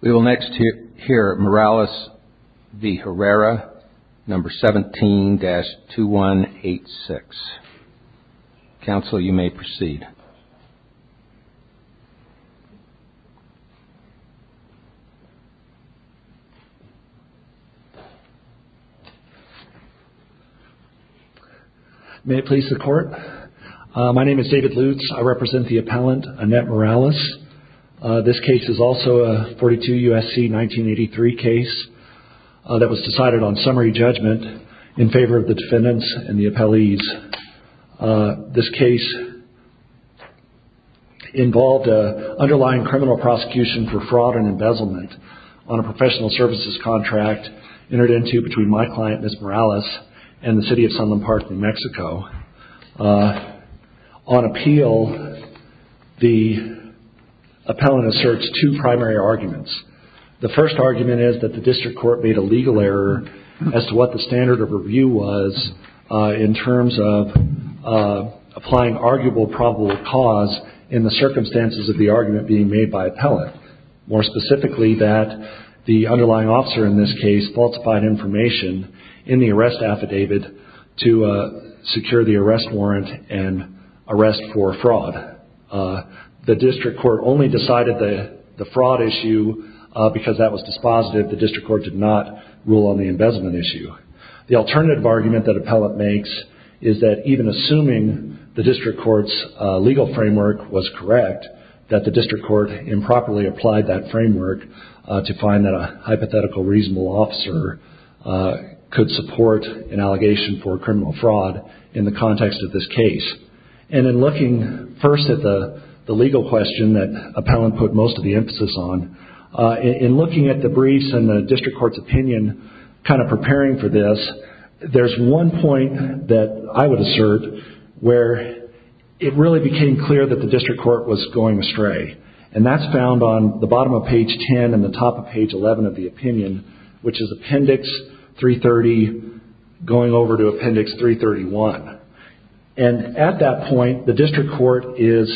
We will next hear Morales v. Herrera, number 17-2186. Council, you may proceed. May it please the court. My name is David Lutes. I represent the appellant, Annette Morales. This case is also a 42 U.S.C. 1983 case that was decided on summary judgment in favor of the defendants and the appellees. This case involved an underlying criminal prosecution for fraud and embezzlement on a professional services contract entered into between my client, Ms. Morales, and the City of Sunland Park, New Mexico. On appeal, the appellant asserts two primary arguments. The first argument is that the district court made a legal error as to what the standard of review was in terms of applying arguable probable cause in the circumstances of the argument being made by appellant. More specifically, that the underlying officer in this case falsified information in the arrest affidavit to secure the arrest warrant and arrest for fraud. The district court only decided the fraud issue because that was dispositive. The district court did not rule on the embezzlement issue. The alternative argument that appellant makes is that even assuming the district court's legal framework was correct, that the district court improperly applied that framework to find that a hypothetical reasonable officer could support an allegation for criminal fraud in the context of this case. In looking first at the legal question that appellant put most of the emphasis on, in looking at the briefs and the district court's opinion, kind of preparing for this, there's one point that I would assert where it really became clear that the district court was going astray. That's found on the bottom of page 10 and the top of page 11 of the opinion, which is appendix 330 going over to appendix 331. At that point, the district court is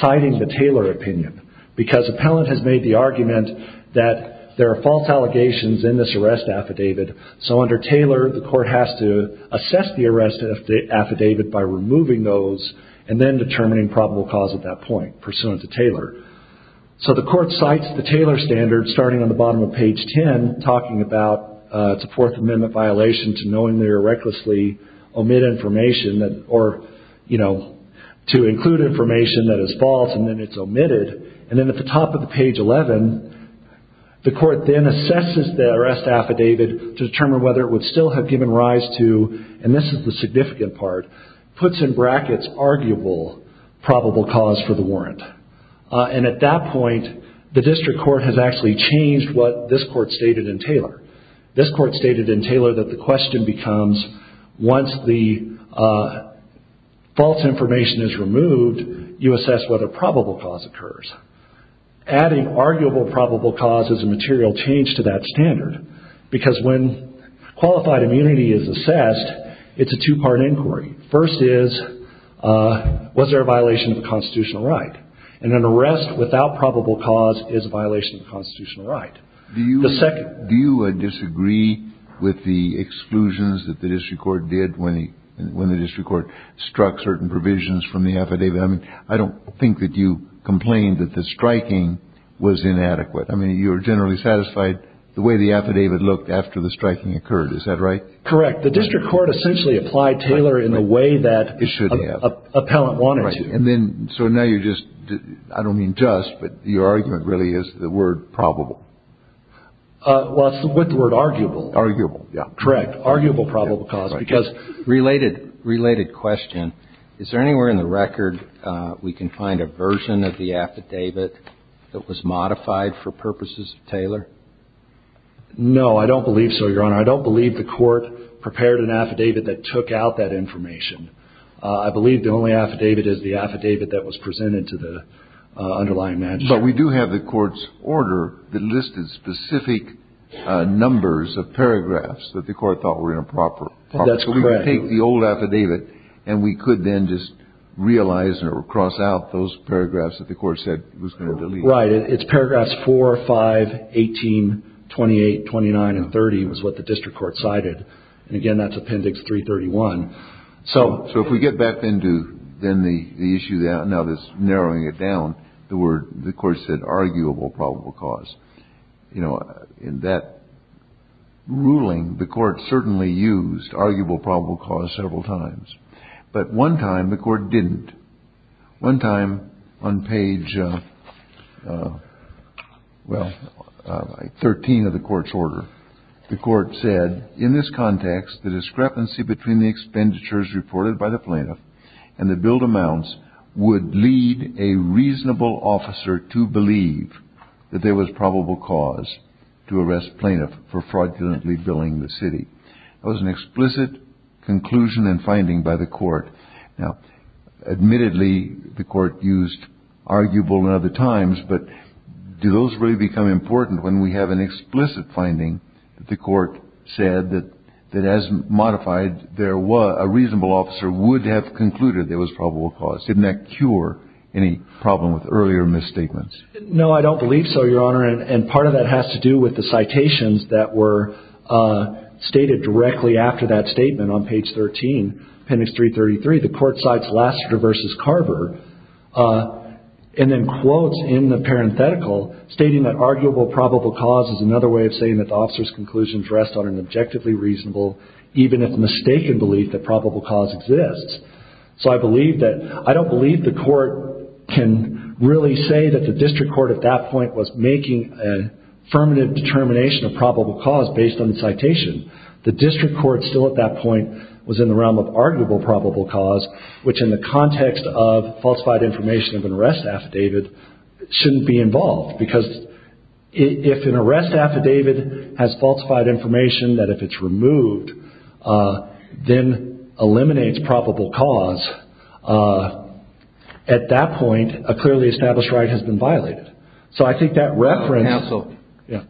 citing the Taylor opinion because appellant has made the argument that there are false allegations in this arrest affidavit, so under Taylor, the court has to assess the arrest affidavit by removing those and then determining probable cause at that point, pursuant to Taylor. So the court cites the Taylor standard, starting on the bottom of page 10, talking about it's a Fourth Amendment violation to knowingly or recklessly omit information or to include information that is false and then it's omitted. And then at the top of page 11, the court then assesses the arrest affidavit to determine whether it would still have given rise to, and this is the significant part, puts in brackets arguable probable cause for the warrant. And at that point, the district court has actually changed what this court stated in Taylor. This court stated in Taylor that the question becomes, once the false information is removed, you assess whether probable cause occurs. Adding arguable probable cause as a material change to that standard, because when qualified immunity is assessed, it's a two-part inquiry. First is, was there a violation of the constitutional right? And an arrest without probable cause is a violation of the constitutional right. Do you disagree with the exclusions that the district court did when the district court struck certain provisions from the affidavit? I mean, I don't think that you complained that the striking was inadequate. I mean, you were generally satisfied the way the affidavit looked after the striking occurred. Is that right? Correct. The district court essentially applied Taylor in a way that an appellant wanted to. So now you're just, I don't mean just, but your argument really is the word probable. Well, it's with the word arguable. Arguable, yeah. Correct. Arguable probable cause. Related question. Is there anywhere in the record we can find a version of the affidavit that was modified for purposes of Taylor? No, I don't believe so, Your Honor. I don't believe the court prepared an affidavit that took out that information. I believe the only affidavit is the affidavit that was presented to the underlying manager. But we do have the court's order that listed specific numbers of paragraphs that the court thought were improper. That's correct. So we could take the old affidavit and we could then just realize or cross out those paragraphs that the court said was going to delete. Right. It's paragraphs 4, 5, 18, 28, 29 and 30 was what the district court cited. And again, that's Appendix 331. So if we get back into then the issue that now this narrowing it down, the word the court said arguable probable cause, you know, in that ruling, the court certainly used arguable probable cause several times. But one time the court didn't. One time on page, well, 13 of the court's order, the court said in this context, the discrepancy between the expenditures reported by the plaintiff and the billed amounts would lead a reasonable officer to believe that there was probable cause to arrest plaintiff for fraudulently billing the city. That was an explicit conclusion and finding by the court. Now, admittedly, the court used arguable in other times, but do those really become important when we have an explicit finding that the court said that that as modified, there was a reasonable officer would have concluded there was probable cause. Didn't that cure any problem with earlier misstatements? No, I don't believe so, Your Honor. And part of that has to do with the citations that were stated directly after that statement on page 13, appendix 333. The court cites Lassiter versus Carver and then quotes in the parenthetical stating that arguable probable cause is another way of saying that the officer's conclusions rest on an objectively reasonable, even if mistaken, belief that probable cause exists. So I believe that – I don't believe the court can really say that the district court at that point was making a affirmative determination of probable cause based on the citation. The district court still at that point was in the realm of arguable probable cause, which in the context of falsified information of an arrest affidavit shouldn't be involved, because if an arrest affidavit has falsified information, that if it's removed, then eliminates probable cause, at that point a clearly established right has been violated. So I think that reference – Counsel,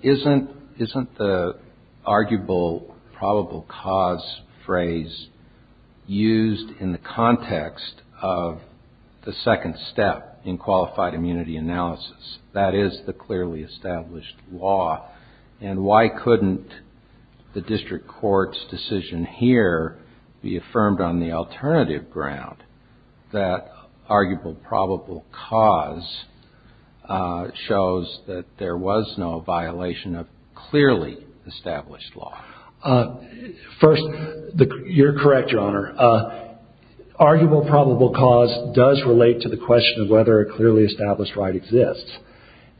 isn't the arguable probable cause phrase used in the context of the second step in qualified immunity analysis? That is the clearly established law. And why couldn't the district court's decision here be affirmed on the alternative ground, that arguable probable cause shows that there was no violation of clearly established law? Arguable probable cause does relate to the question of whether a clearly established right exists.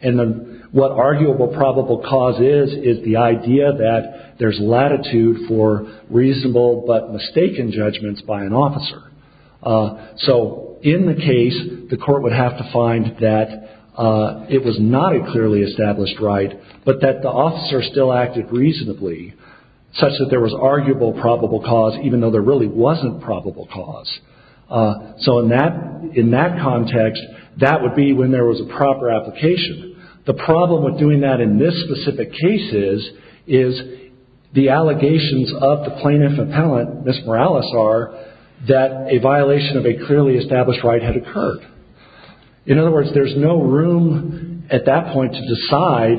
And what arguable probable cause is, is the idea that there's latitude for reasonable but mistaken judgments by an officer. So in the case, the court would have to find that it was not a clearly established right, but that the officer still acted reasonably, such that there was arguable probable cause, even though there really wasn't probable cause. So in that context, that would be when there was a proper application. The problem with doing that in this specific case is the allegations of the plaintiff appellant, Ms. Morales, are that a violation of a clearly established right had occurred. In other words, there's no room at that point to decide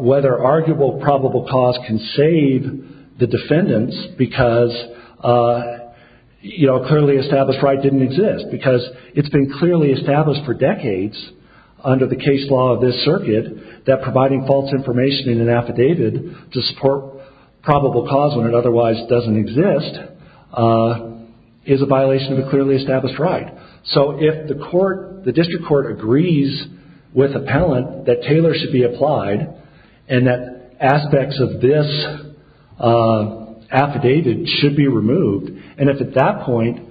whether arguable probable cause can save the defendants, because a clearly established right didn't exist. Because it's been clearly established for decades under the case law of this circuit that providing false information in an affidavit to support probable cause when it otherwise doesn't exist is a violation of a clearly established right. So if the district court agrees with appellant that Taylor should be applied and that aspects of this affidavit should be removed, and if at that point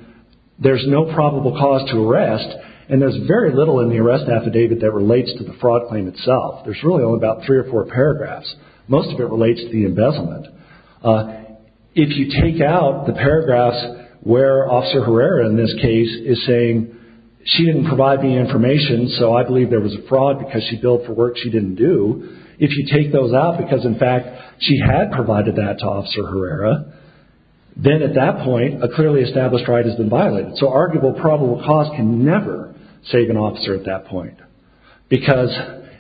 there's no probable cause to arrest, and there's very little in the arrest affidavit that relates to the fraud claim itself. There's really only about three or four paragraphs. Most of it relates to the embezzlement. If you take out the paragraphs where Officer Herrera in this case is saying, she didn't provide me information, so I believe there was a fraud because she billed for work she didn't do. If you take those out because, in fact, she had provided that to Officer Herrera, then at that point a clearly established right has been violated. So arguable probable cause can never save an officer at that point, because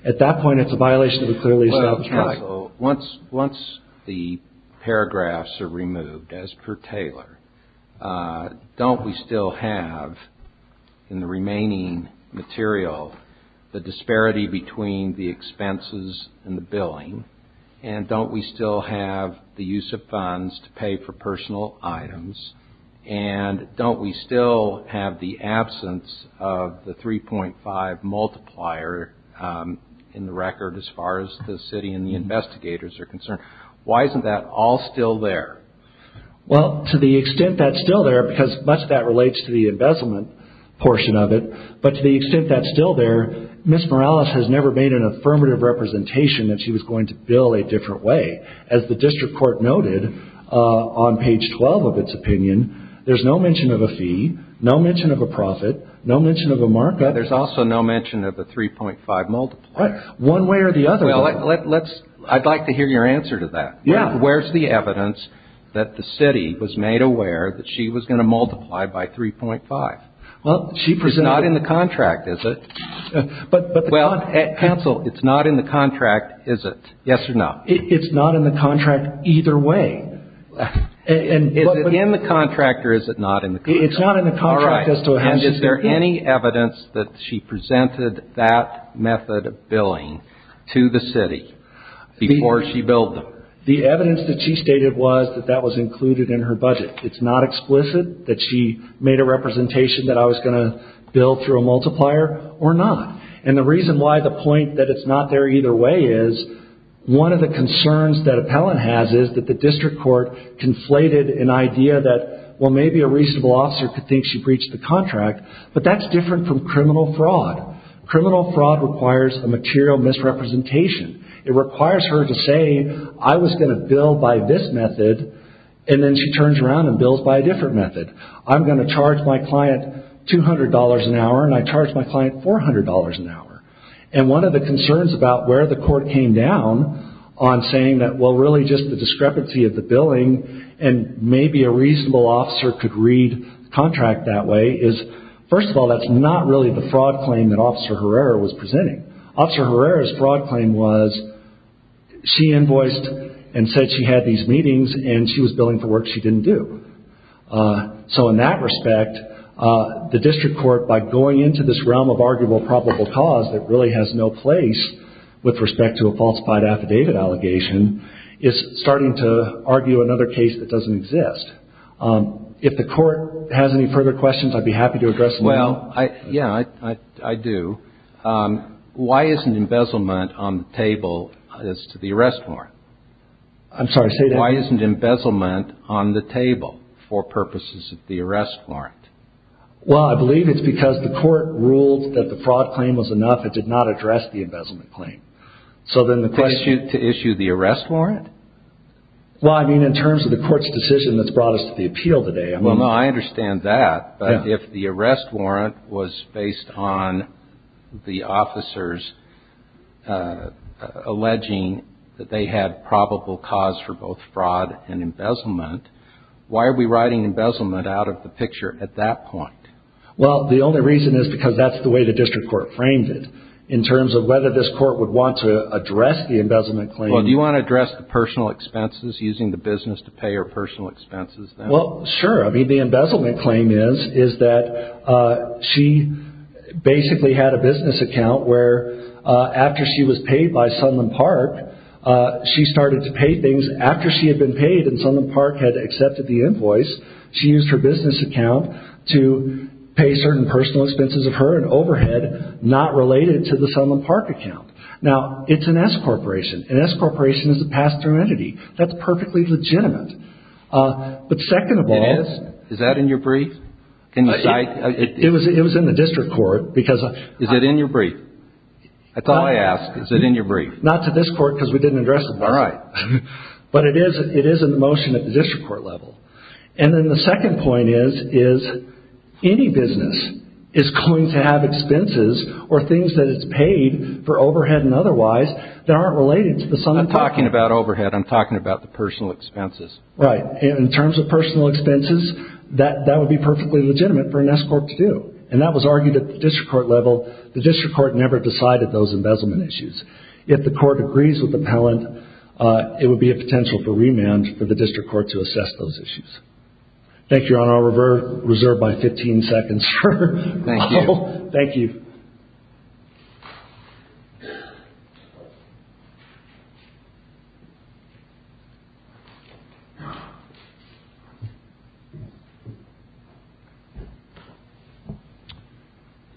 at that point it's a violation of a clearly established right. Once the paragraphs are removed as per Taylor, don't we still have in the remaining material the disparity between the expenses and the billing, and don't we still have the use of funds to pay for personal items, and don't we still have the absence of the 3.5 multiplier in the record as far as the city and the investigators are concerned? Why isn't that all still there? Well, to the extent that's still there, because much of that relates to the embezzlement portion of it, but to the extent that's still there, Ms. Morales has never made an affirmative representation that she was going to bill a different way. As the district court noted on page 12 of its opinion, there's no mention of a fee, no mention of a profit, no mention of a markup. There's also no mention of the 3.5 multiplier. Right. One way or the other. I'd like to hear your answer to that. Yeah. Where's the evidence that the city was made aware that she was going to multiply by 3.5? Well, she presented it. It's not in the contract, is it? Well, counsel, it's not in the contract, is it? Yes or no? It's not in the contract either way. Is it in the contract or is it not in the contract? It's not in the contract. All right. And is there any evidence that she presented that method of billing to the city before she billed them? The evidence that she stated was that that was included in her budget. It's not explicit that she made a representation that I was going to bill through a multiplier or not. And the reason why the point that it's not there either way is, one of the concerns that appellant has is that the district court conflated an idea that, well, maybe a reasonable officer could think she breached the contract, but that's different from criminal fraud. Criminal fraud requires a material misrepresentation. It requires her to say, I was going to bill by this method, and then she turns around and bills by a different method. I'm going to charge my client $200 an hour and I charge my client $400 an hour. And one of the concerns about where the court came down on saying that, well, really just the discrepancy of the billing and maybe a reasonable officer could read the contract that way is, first of all, that's not really the fraud claim that Officer Herrera was presenting. Officer Herrera's fraud claim was she invoiced and said she had these meetings and she was billing for work she didn't do. So in that respect, the district court, by going into this realm of arguable probable cause that really has no place with respect to a falsified affidavit allegation, is starting to argue another case that doesn't exist. If the court has any further questions, I'd be happy to address them. Well, yeah, I do. Why isn't embezzlement on the table as to the arrest warrant? I'm sorry, say that again. Why isn't embezzlement on the table for purposes of the arrest warrant? Well, I believe it's because the court ruled that the fraud claim was enough. It did not address the embezzlement claim. To issue the arrest warrant? Well, I mean in terms of the court's decision that's brought us to the appeal today. Well, no, I understand that. But if the arrest warrant was based on the officers alleging that they had probable cause for both fraud and embezzlement, why are we writing embezzlement out of the picture at that point? Well, the only reason is because that's the way the district court framed it, in terms of whether this court would want to address the embezzlement claim. Well, do you want to address the personal expenses, using the business to pay your personal expenses? Well, sure. I mean, the embezzlement claim is that she basically had a business account where after she was paid by Sunland Park, she started to pay things after she had been paid and Sunland Park had accepted the invoice. She used her business account to pay certain personal expenses of her and overhead not related to the Sunland Park account. Now, it's an S-corporation. An S-corporation is a pass-through entity. That's perfectly legitimate. But second of all... It is? Is that in your brief? It was in the district court because... Is it in your brief? That's all I ask. Is it in your brief? Not to this court because we didn't address it. All right. But it is in the motion at the district court level. And then the second point is, is any business is going to have expenses or things that it's paid for overhead and otherwise that aren't related to the Sunland Park... I'm not talking about overhead. I'm talking about the personal expenses. Right. In terms of personal expenses, that would be perfectly legitimate for an S-corp to do. And that was argued at the district court level. The district court never decided those embezzlement issues. If the court agrees with the appellant, it would be a potential for remand for the district court to assess those issues. Thank you, Your Honor. I'll reserve my 15 seconds for... Thank you. Thank you.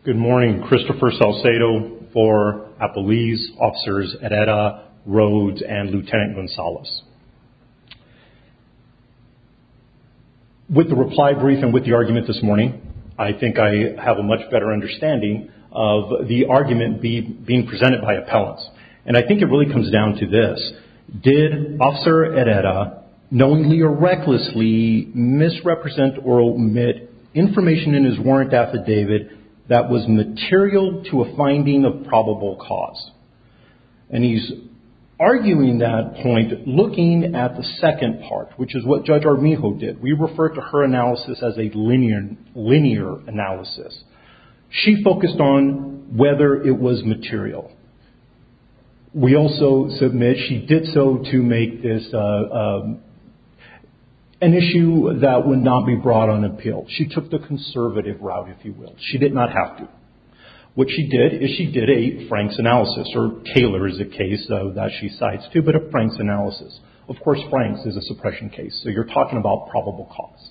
Good morning. Christopher Salcedo for Appalese Officers Edetta Rhodes and Lieutenant Gonzales. With the reply brief and with the argument this morning, I think I have a much better understanding of the argument being presented by appellants. And I think it really comes down to this. Did Officer Edetta knowingly or recklessly misrepresent or omit information in his warrant affidavit that was material to a finding of probable cause? And he's arguing that point looking at the second part, which is what Judge Armijo did. We refer to her analysis as a linear analysis. She focused on whether it was material. We also submit she did so to make this an issue that would not be brought on appeal. She took the conservative route, if you will. She did not have to. What she did is she did a Franks analysis, or Taylor is a case that she cites too, but a Franks analysis. Of course, Franks is a suppression case, so you're talking about probable cause.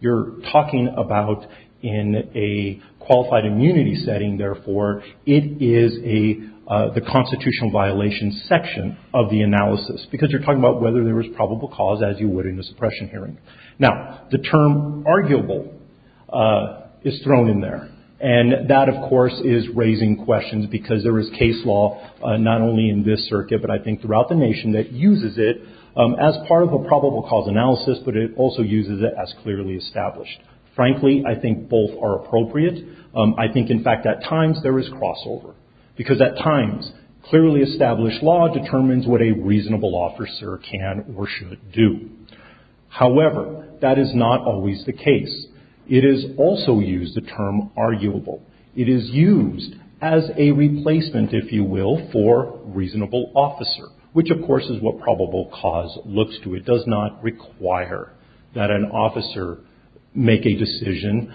You're talking about in a qualified immunity setting, therefore, it is the constitutional violation section of the analysis. Because you're talking about whether there was probable cause, as you would in a suppression hearing. Now, the term arguable is thrown in there. And that, of course, is raising questions because there is case law not only in this circuit, but I think throughout the nation that uses it as part of a probable cause analysis, but it also uses it as clearly established. Frankly, I think both are appropriate. I think, in fact, at times there is crossover. Because at times, clearly established law determines what a reasonable officer can or should do. However, that is not always the case. It is also used, the term arguable. It is used as a replacement, if you will, for reasonable officer, which, of course, is what probable cause looks to. It does not require that an officer make a decision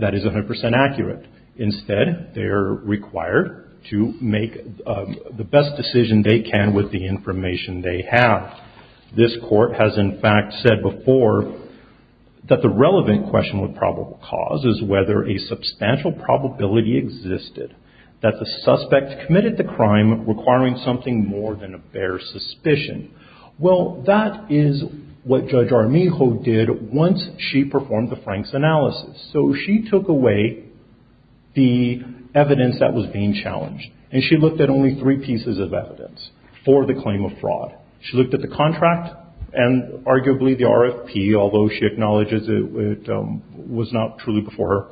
that is 100% accurate. Instead, they're required to make the best decision they can with the information they have. This court has, in fact, said before that the relevant question with probable cause is whether a substantial probability existed that the suspect committed the crime requiring something more than a bare suspicion. Well, that is what Judge Armijo did once she performed the Franks analysis. So she took away the evidence that was being challenged. And she looked at only three pieces of evidence for the claim of fraud. She looked at the contract and arguably the RFP, although she acknowledges it was not truly before her.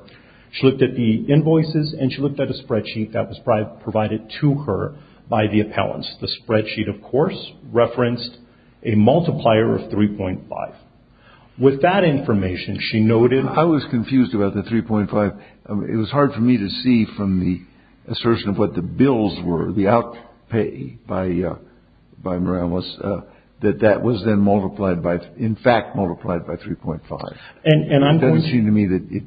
She looked at the invoices, and she looked at a spreadsheet that was provided to her by the appellants. The spreadsheet, of course, referenced a multiplier of 3.5. With that information, she noted. I was confused about the 3.5. It was hard for me to see from the assertion of what the bills were, the outpay by Morales, that that was then multiplied by, in fact, multiplied by 3.5. It doesn't seem to me that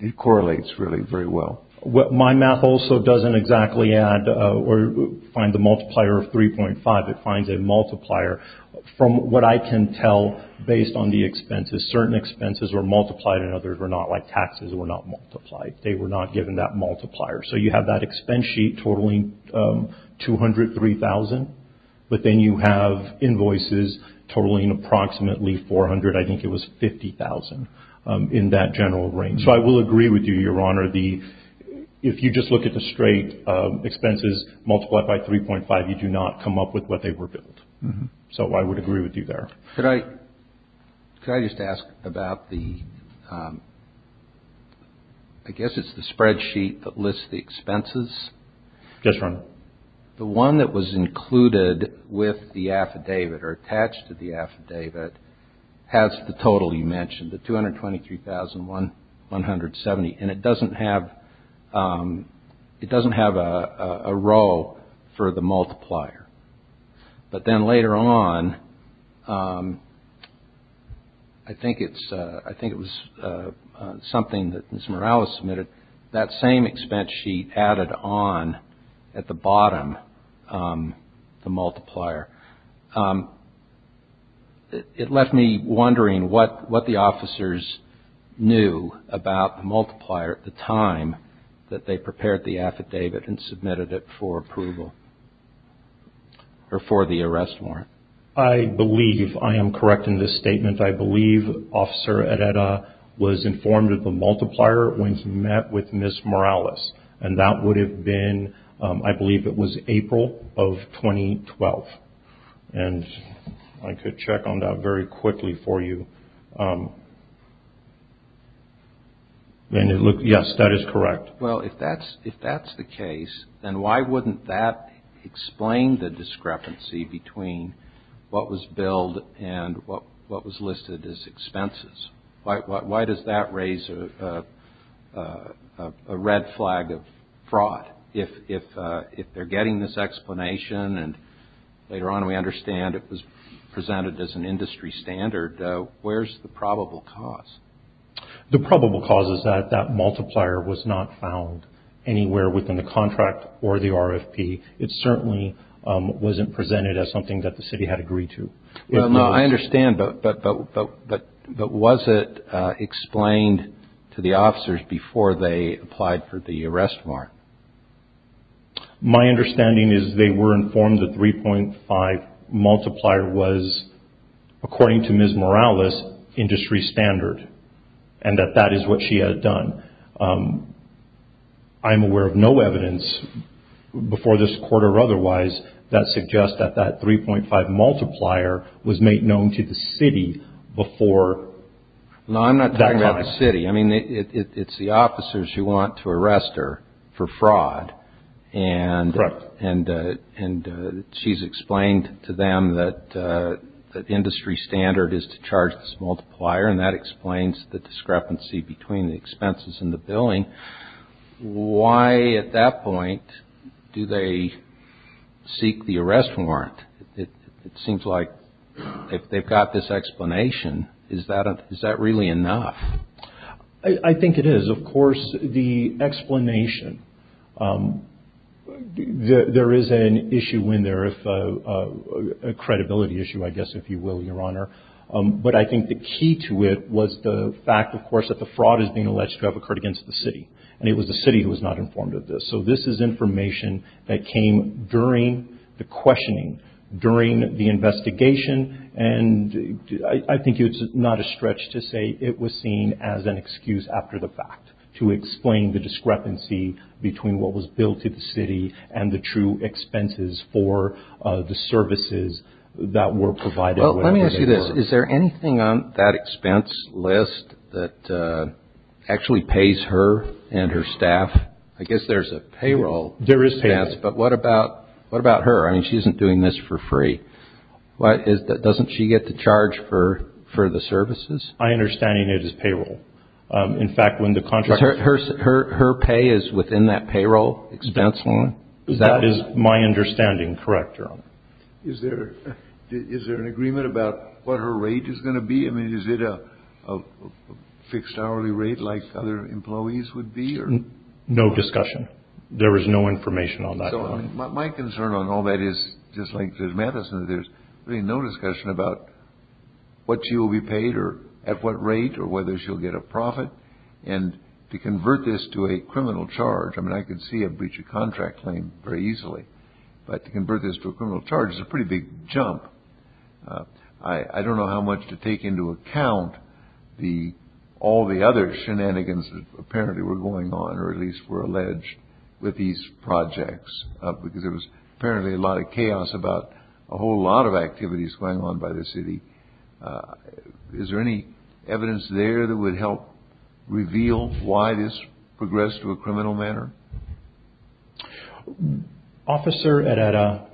it correlates really very well. My math also doesn't exactly add or find the multiplier of 3.5. It finds a multiplier from what I can tell based on the expenses. Certain expenses were multiplied and others were not, like taxes were not multiplied. They were not given that multiplier. So you have that expense sheet totaling $203,000, but then you have invoices totaling approximately $400,000. I think it was $50,000 in that general range. So I will agree with you, Your Honor. If you just look at the straight expenses multiplied by 3.5, you do not come up with what they were billed. So I would agree with you there. Could I just ask about the spreadsheet that lists the expenses? Yes, Your Honor. The one that was included with the affidavit or attached to the affidavit has the total you mentioned, the $223,170. And it doesn't have a row for the multiplier. But then later on, I think it was something that Ms. Morales submitted, that same expense sheet added on at the bottom, the multiplier. It left me wondering what the officers knew about the multiplier at the time that they prepared the affidavit and submitted it for approval or for the arrest warrant. I believe I am correct in this statement. I believe Officer Arreta was informed of the multiplier when he met with Ms. Morales. And that would have been, I believe it was April of 2012. And I could check on that very quickly for you. Yes, that is correct. Well, if that's the case, then why wouldn't that explain the discrepancy between what was billed and what was listed as expenses? Why does that raise a red flag of fraud? If they're getting this explanation and later on we understand it was presented as an industry standard, where's the probable cause? The probable cause is that that multiplier was not found anywhere within the contract or the RFP. It certainly wasn't presented as something that the city had agreed to. I understand, but was it explained to the officers before they applied for the arrest warrant? My understanding is they were informed the 3.5 multiplier was, according to Ms. Morales, industry standard. And that that is what she had done. I'm aware of no evidence before this quarter or otherwise that suggests that that 3.5 multiplier was made known to the city before that time. No, I'm not talking about the city. I mean, it's the officers who want to arrest her for fraud. Correct. And she's explained to them that the industry standard is to charge this multiplier, and that explains the discrepancy between the expenses and the billing. Why at that point do they seek the arrest warrant? It seems like if they've got this explanation, is that really enough? I think it is. Of course, the explanation, there is an issue in there, a credibility issue, I guess, if you will, Your Honor. But I think the key to it was the fact, of course, that the fraud is being alleged to have occurred against the city. And it was the city who was not informed of this. So this is information that came during the questioning, during the investigation. And I think it's not a stretch to say it was seen as an excuse after the fact to explain the discrepancy between what was billed to the city and the true expenses for the services that were provided. Well, let me ask you this. Is there anything on that expense list that actually pays her and her staff? I guess there's a payroll expense. There is payroll. But what about her? I mean, she isn't doing this for free. Doesn't she get to charge for the services? My understanding is it is payroll. In fact, when the contractor – Her pay is within that payroll expense line? That is my understanding. Correct, Your Honor. Is there an agreement about what her rate is going to be? I mean, is it a fixed hourly rate like other employees would be? No discussion. There is no information on that. So my concern on all that is, just like Judge Mathison, there's really no discussion about what she will be paid or at what rate or whether she'll get a profit. And to convert this to a criminal charge – I mean, I could see a breach of contract claim very easily. But to convert this to a criminal charge is a pretty big jump. I don't know how much to take into account all the other shenanigans that apparently were going on or at least were alleged with these projects. Because there was apparently a lot of chaos about a whole lot of activities going on by the city. Is there any evidence there that would help reveal why this progressed to a criminal manner? Officer Herrera,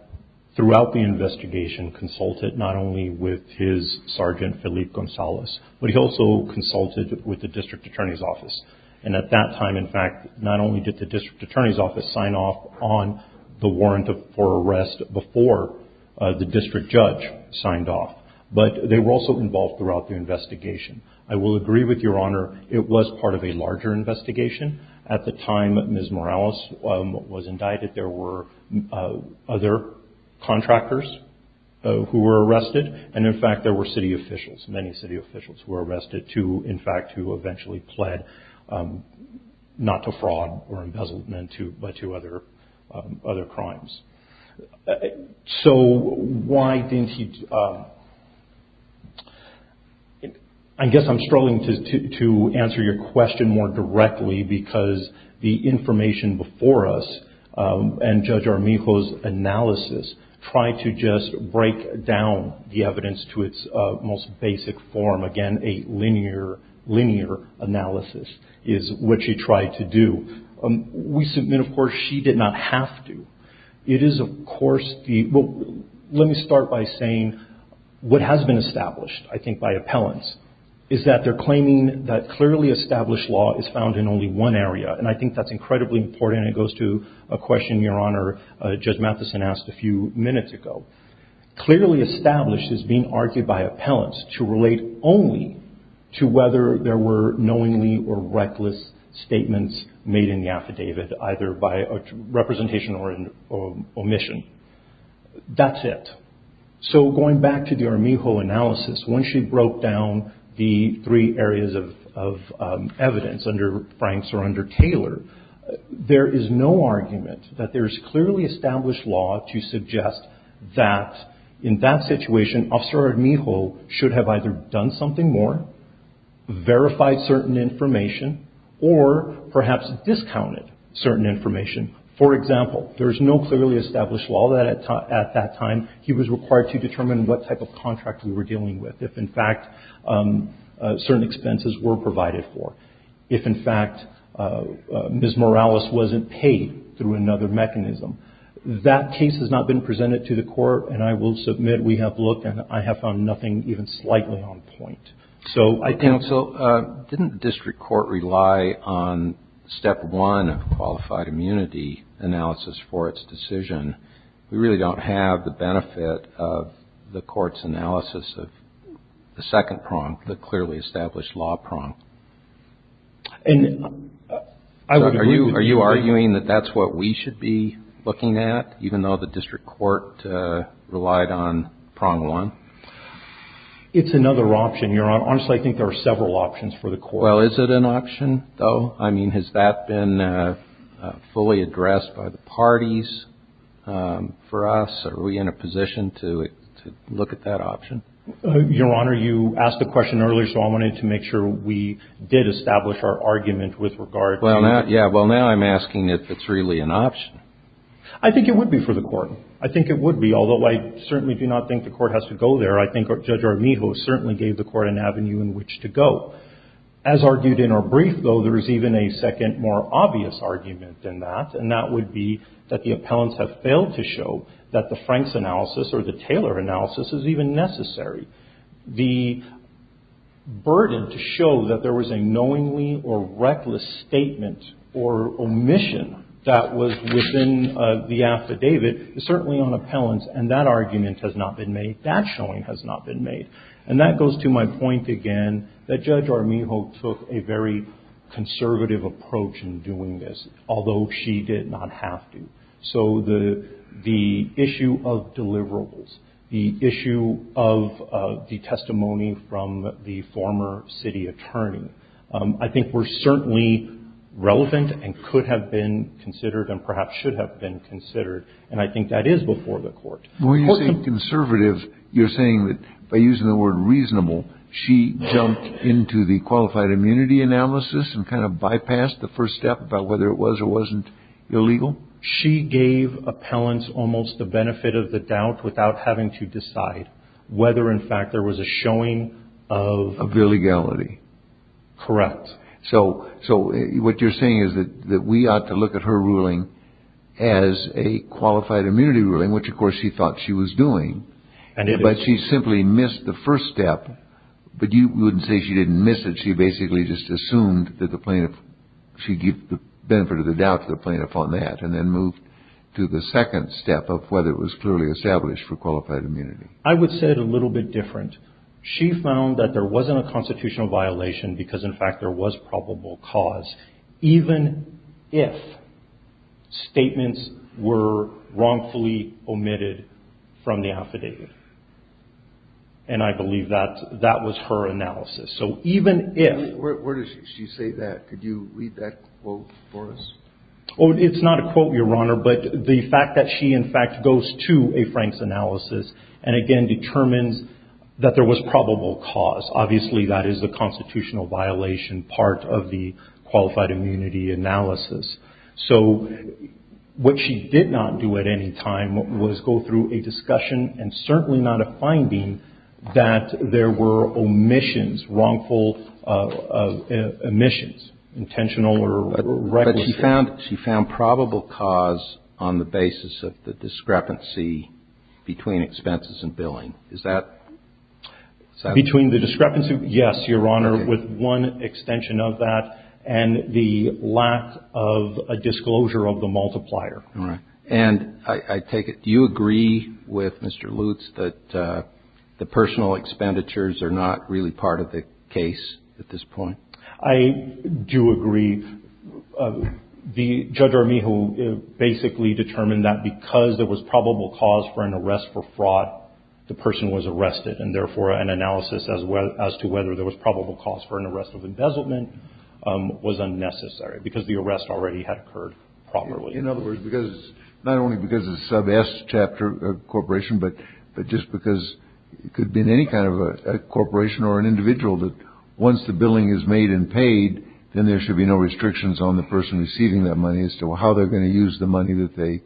throughout the investigation, consulted not only with his sergeant, Felipe Gonzalez, but he also consulted with the district attorney's office. And at that time, in fact, not only did the district attorney's office sign off on the warrant for arrest before the district judge signed off, but they were also involved throughout the investigation. I will agree with Your Honor, it was part of a larger investigation. At the time Ms. Morales was indicted, there were other contractors who were arrested. And in fact, there were city officials, many city officials, who were arrested too, in fact, who eventually pled not to fraud or embezzlement but to other crimes. So why didn't he... I guess I'm struggling to answer your question more directly because the information before us and Judge Armijo's analysis tried to just break down the evidence to its most basic form. Again, a linear analysis is what she tried to do. We submit, of course, she did not have to. It is, of course, the... Well, let me start by saying what has been established, I think, by appellants, is that they're claiming that clearly established law is found in only one area. And I think that's incredibly important. And it goes to a question Your Honor, Judge Matheson asked a few minutes ago. Clearly established is being argued by appellants to relate only to whether there were knowingly or reckless statements made in the affidavit, either by representation or omission. That's it. So going back to the Armijo analysis, when she broke down the three areas of evidence under Franks or under Taylor, there is no argument that there is clearly established law to suggest that in that situation, Officer Armijo should have either done something more, verified certain information, or perhaps discounted certain information. For example, there is no clearly established law that at that time he was required to determine what type of contract we were dealing with, if in fact certain expenses were provided for, if in fact Ms. Morales wasn't paid through another mechanism. That case has not been presented to the court, and I will submit we have looked and I have found nothing even slightly on point. So I think... So didn't the district court rely on step one of qualified immunity analysis for its decision? We really don't have the benefit of the court's analysis of the second prong, the clearly established law prong. Are you arguing that that's what we should be looking at, even though the district court relied on prong one? It's another option, Your Honor. Honestly, I think there are several options for the court. Well, is it an option, though? I mean, has that been fully addressed by the parties for us? Are we in a position to look at that option? Your Honor, you asked the question earlier, so I wanted to make sure we did establish our argument with regard to that. Well, now I'm asking if it's really an option. I think it would be for the court. I think it would be, although I certainly do not think the court has to go there. I think Judge Armijo certainly gave the court an avenue in which to go. As argued in our brief, though, there is even a second, more obvious argument than that, and that would be that the appellants have failed to show that the Frank's analysis or the Taylor analysis is even necessary. The burden to show that there was a knowingly or reckless statement or omission that was within the affidavit is certainly on appellants, and that argument has not been made. That showing has not been made. And that goes to my point again that Judge Armijo took a very conservative approach in doing this, although she did not have to. So the issue of deliverables, the issue of the testimony from the former city attorney, I think were certainly relevant and could have been considered and perhaps should have been considered, and I think that is before the court. When you say conservative, you're saying that by using the word reasonable, she jumped into the qualified immunity analysis and kind of bypassed the first step about whether it was or wasn't illegal? She gave appellants almost the benefit of the doubt without having to decide whether, in fact, there was a showing of illegality. Correct. So what you're saying is that we ought to look at her ruling as a qualified immunity ruling, which of course she thought she was doing, but she simply missed the first step. But you wouldn't say she didn't miss it. She basically just assumed that the plaintiff, she gave the benefit of the doubt to the plaintiff on that and then moved to the second step of whether it was clearly established for qualified immunity. I would say it a little bit different. She found that there wasn't a constitutional violation because, in fact, there was probable cause. Even if statements were wrongfully omitted from the affidavit. And I believe that that was her analysis. So even if. Where does she say that? Could you read that quote for us? It's not a quote, Your Honor, but the fact that she, in fact, goes to a Franks analysis and, again, determines that there was probable cause. Obviously that is the constitutional violation part of the qualified immunity analysis. So what she did not do at any time was go through a discussion and certainly not a finding that there were omissions, wrongful omissions, intentional or reckless. But she found probable cause on the basis of the discrepancy between expenses and billing. Is that? Between the discrepancy? Yes, Your Honor, with one extension of that and the lack of a disclosure of the multiplier. All right. And I take it you agree with Mr. Lutz that the personal expenditures are not really part of the case at this point? I do agree. The judge or me who basically determined that because there was probable cause for an arrest for fraud, the person was arrested and therefore an analysis as well as to whether there was probable cause for an arrest of embezzlement was unnecessary because the arrest already had occurred properly. In other words, because not only because it's a sub S chapter corporation, but just because it could be in any kind of a corporation or an individual that once the billing is made and paid, then there should be no restrictions on the person receiving that money as to how they're going to use the money that they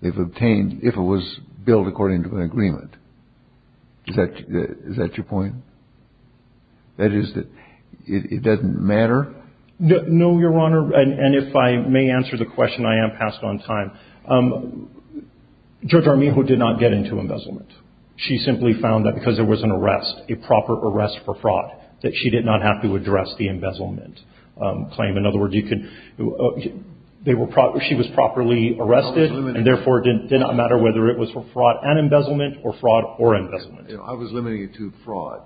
they've obtained if it was billed according to an agreement. Is that your point? That is that it doesn't matter? No, Your Honor. And if I may answer the question, I am passed on time. Judge Armijo did not get into embezzlement. She simply found that because there was an arrest, a proper arrest for fraud, that she did not have to address the embezzlement claim. In other words, she was properly arrested and therefore did not matter whether it was for fraud and embezzlement or fraud or embezzlement. I was limiting it to fraud.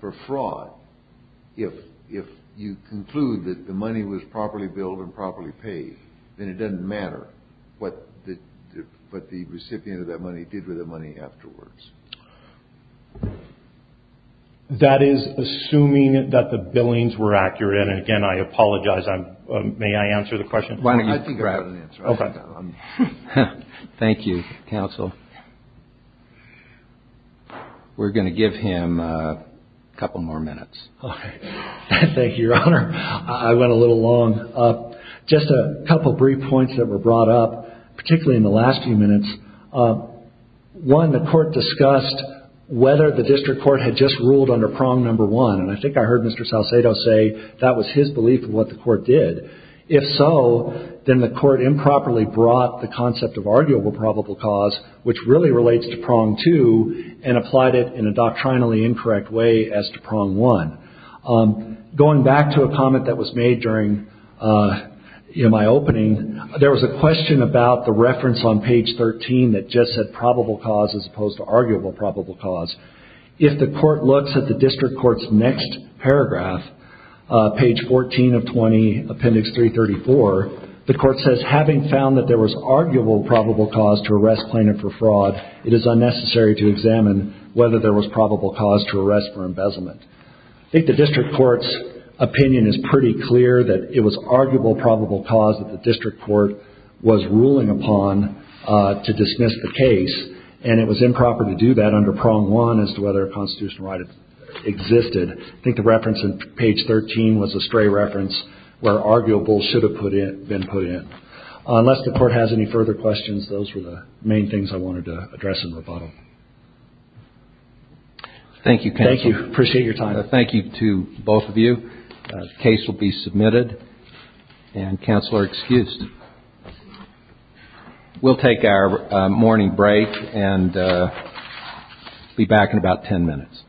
For fraud, if you conclude that the money was properly billed and properly paid, then it doesn't matter what the recipient of that money did with the money afterwards. That is assuming that the billings were accurate. And again, I apologize. May I answer the question? I think I have an answer. Thank you, counsel. We're going to give him a couple more minutes. Thank you, Your Honor. I went a little long. Just a couple brief points that were brought up, particularly in the last few minutes. One, the court discussed whether the district court had just ruled under prong number one. And I think I heard Mr. Salcedo say that was his belief of what the court did. If so, then the court improperly brought the concept of arguable probable cause, which really relates to prong two, and applied it in a doctrinally incorrect way as to prong one. Going back to a comment that was made during my opening, there was a question about the reference on page 13 that just said probable cause as opposed to arguable probable cause. If the court looks at the district court's next paragraph, page 14 of 20, appendix 334, the court says, Having found that there was arguable probable cause to arrest plaintiff for fraud, it is unnecessary to examine whether there was probable cause to arrest for embezzlement. I think the district court's opinion is pretty clear that it was arguable probable cause that the district court was ruling upon to dismiss the case, and it was improper to do that under prong one as to whether a constitutional right existed. I think the reference on page 13 was a stray reference where arguable should have been put in. Unless the court has any further questions, those were the main things I wanted to address in rebuttal. Thank you, counsel. Thank you. Appreciate your time. Thank you to both of you. The case will be submitted, and counsel are excused. We'll take our morning break and be back in about ten minutes.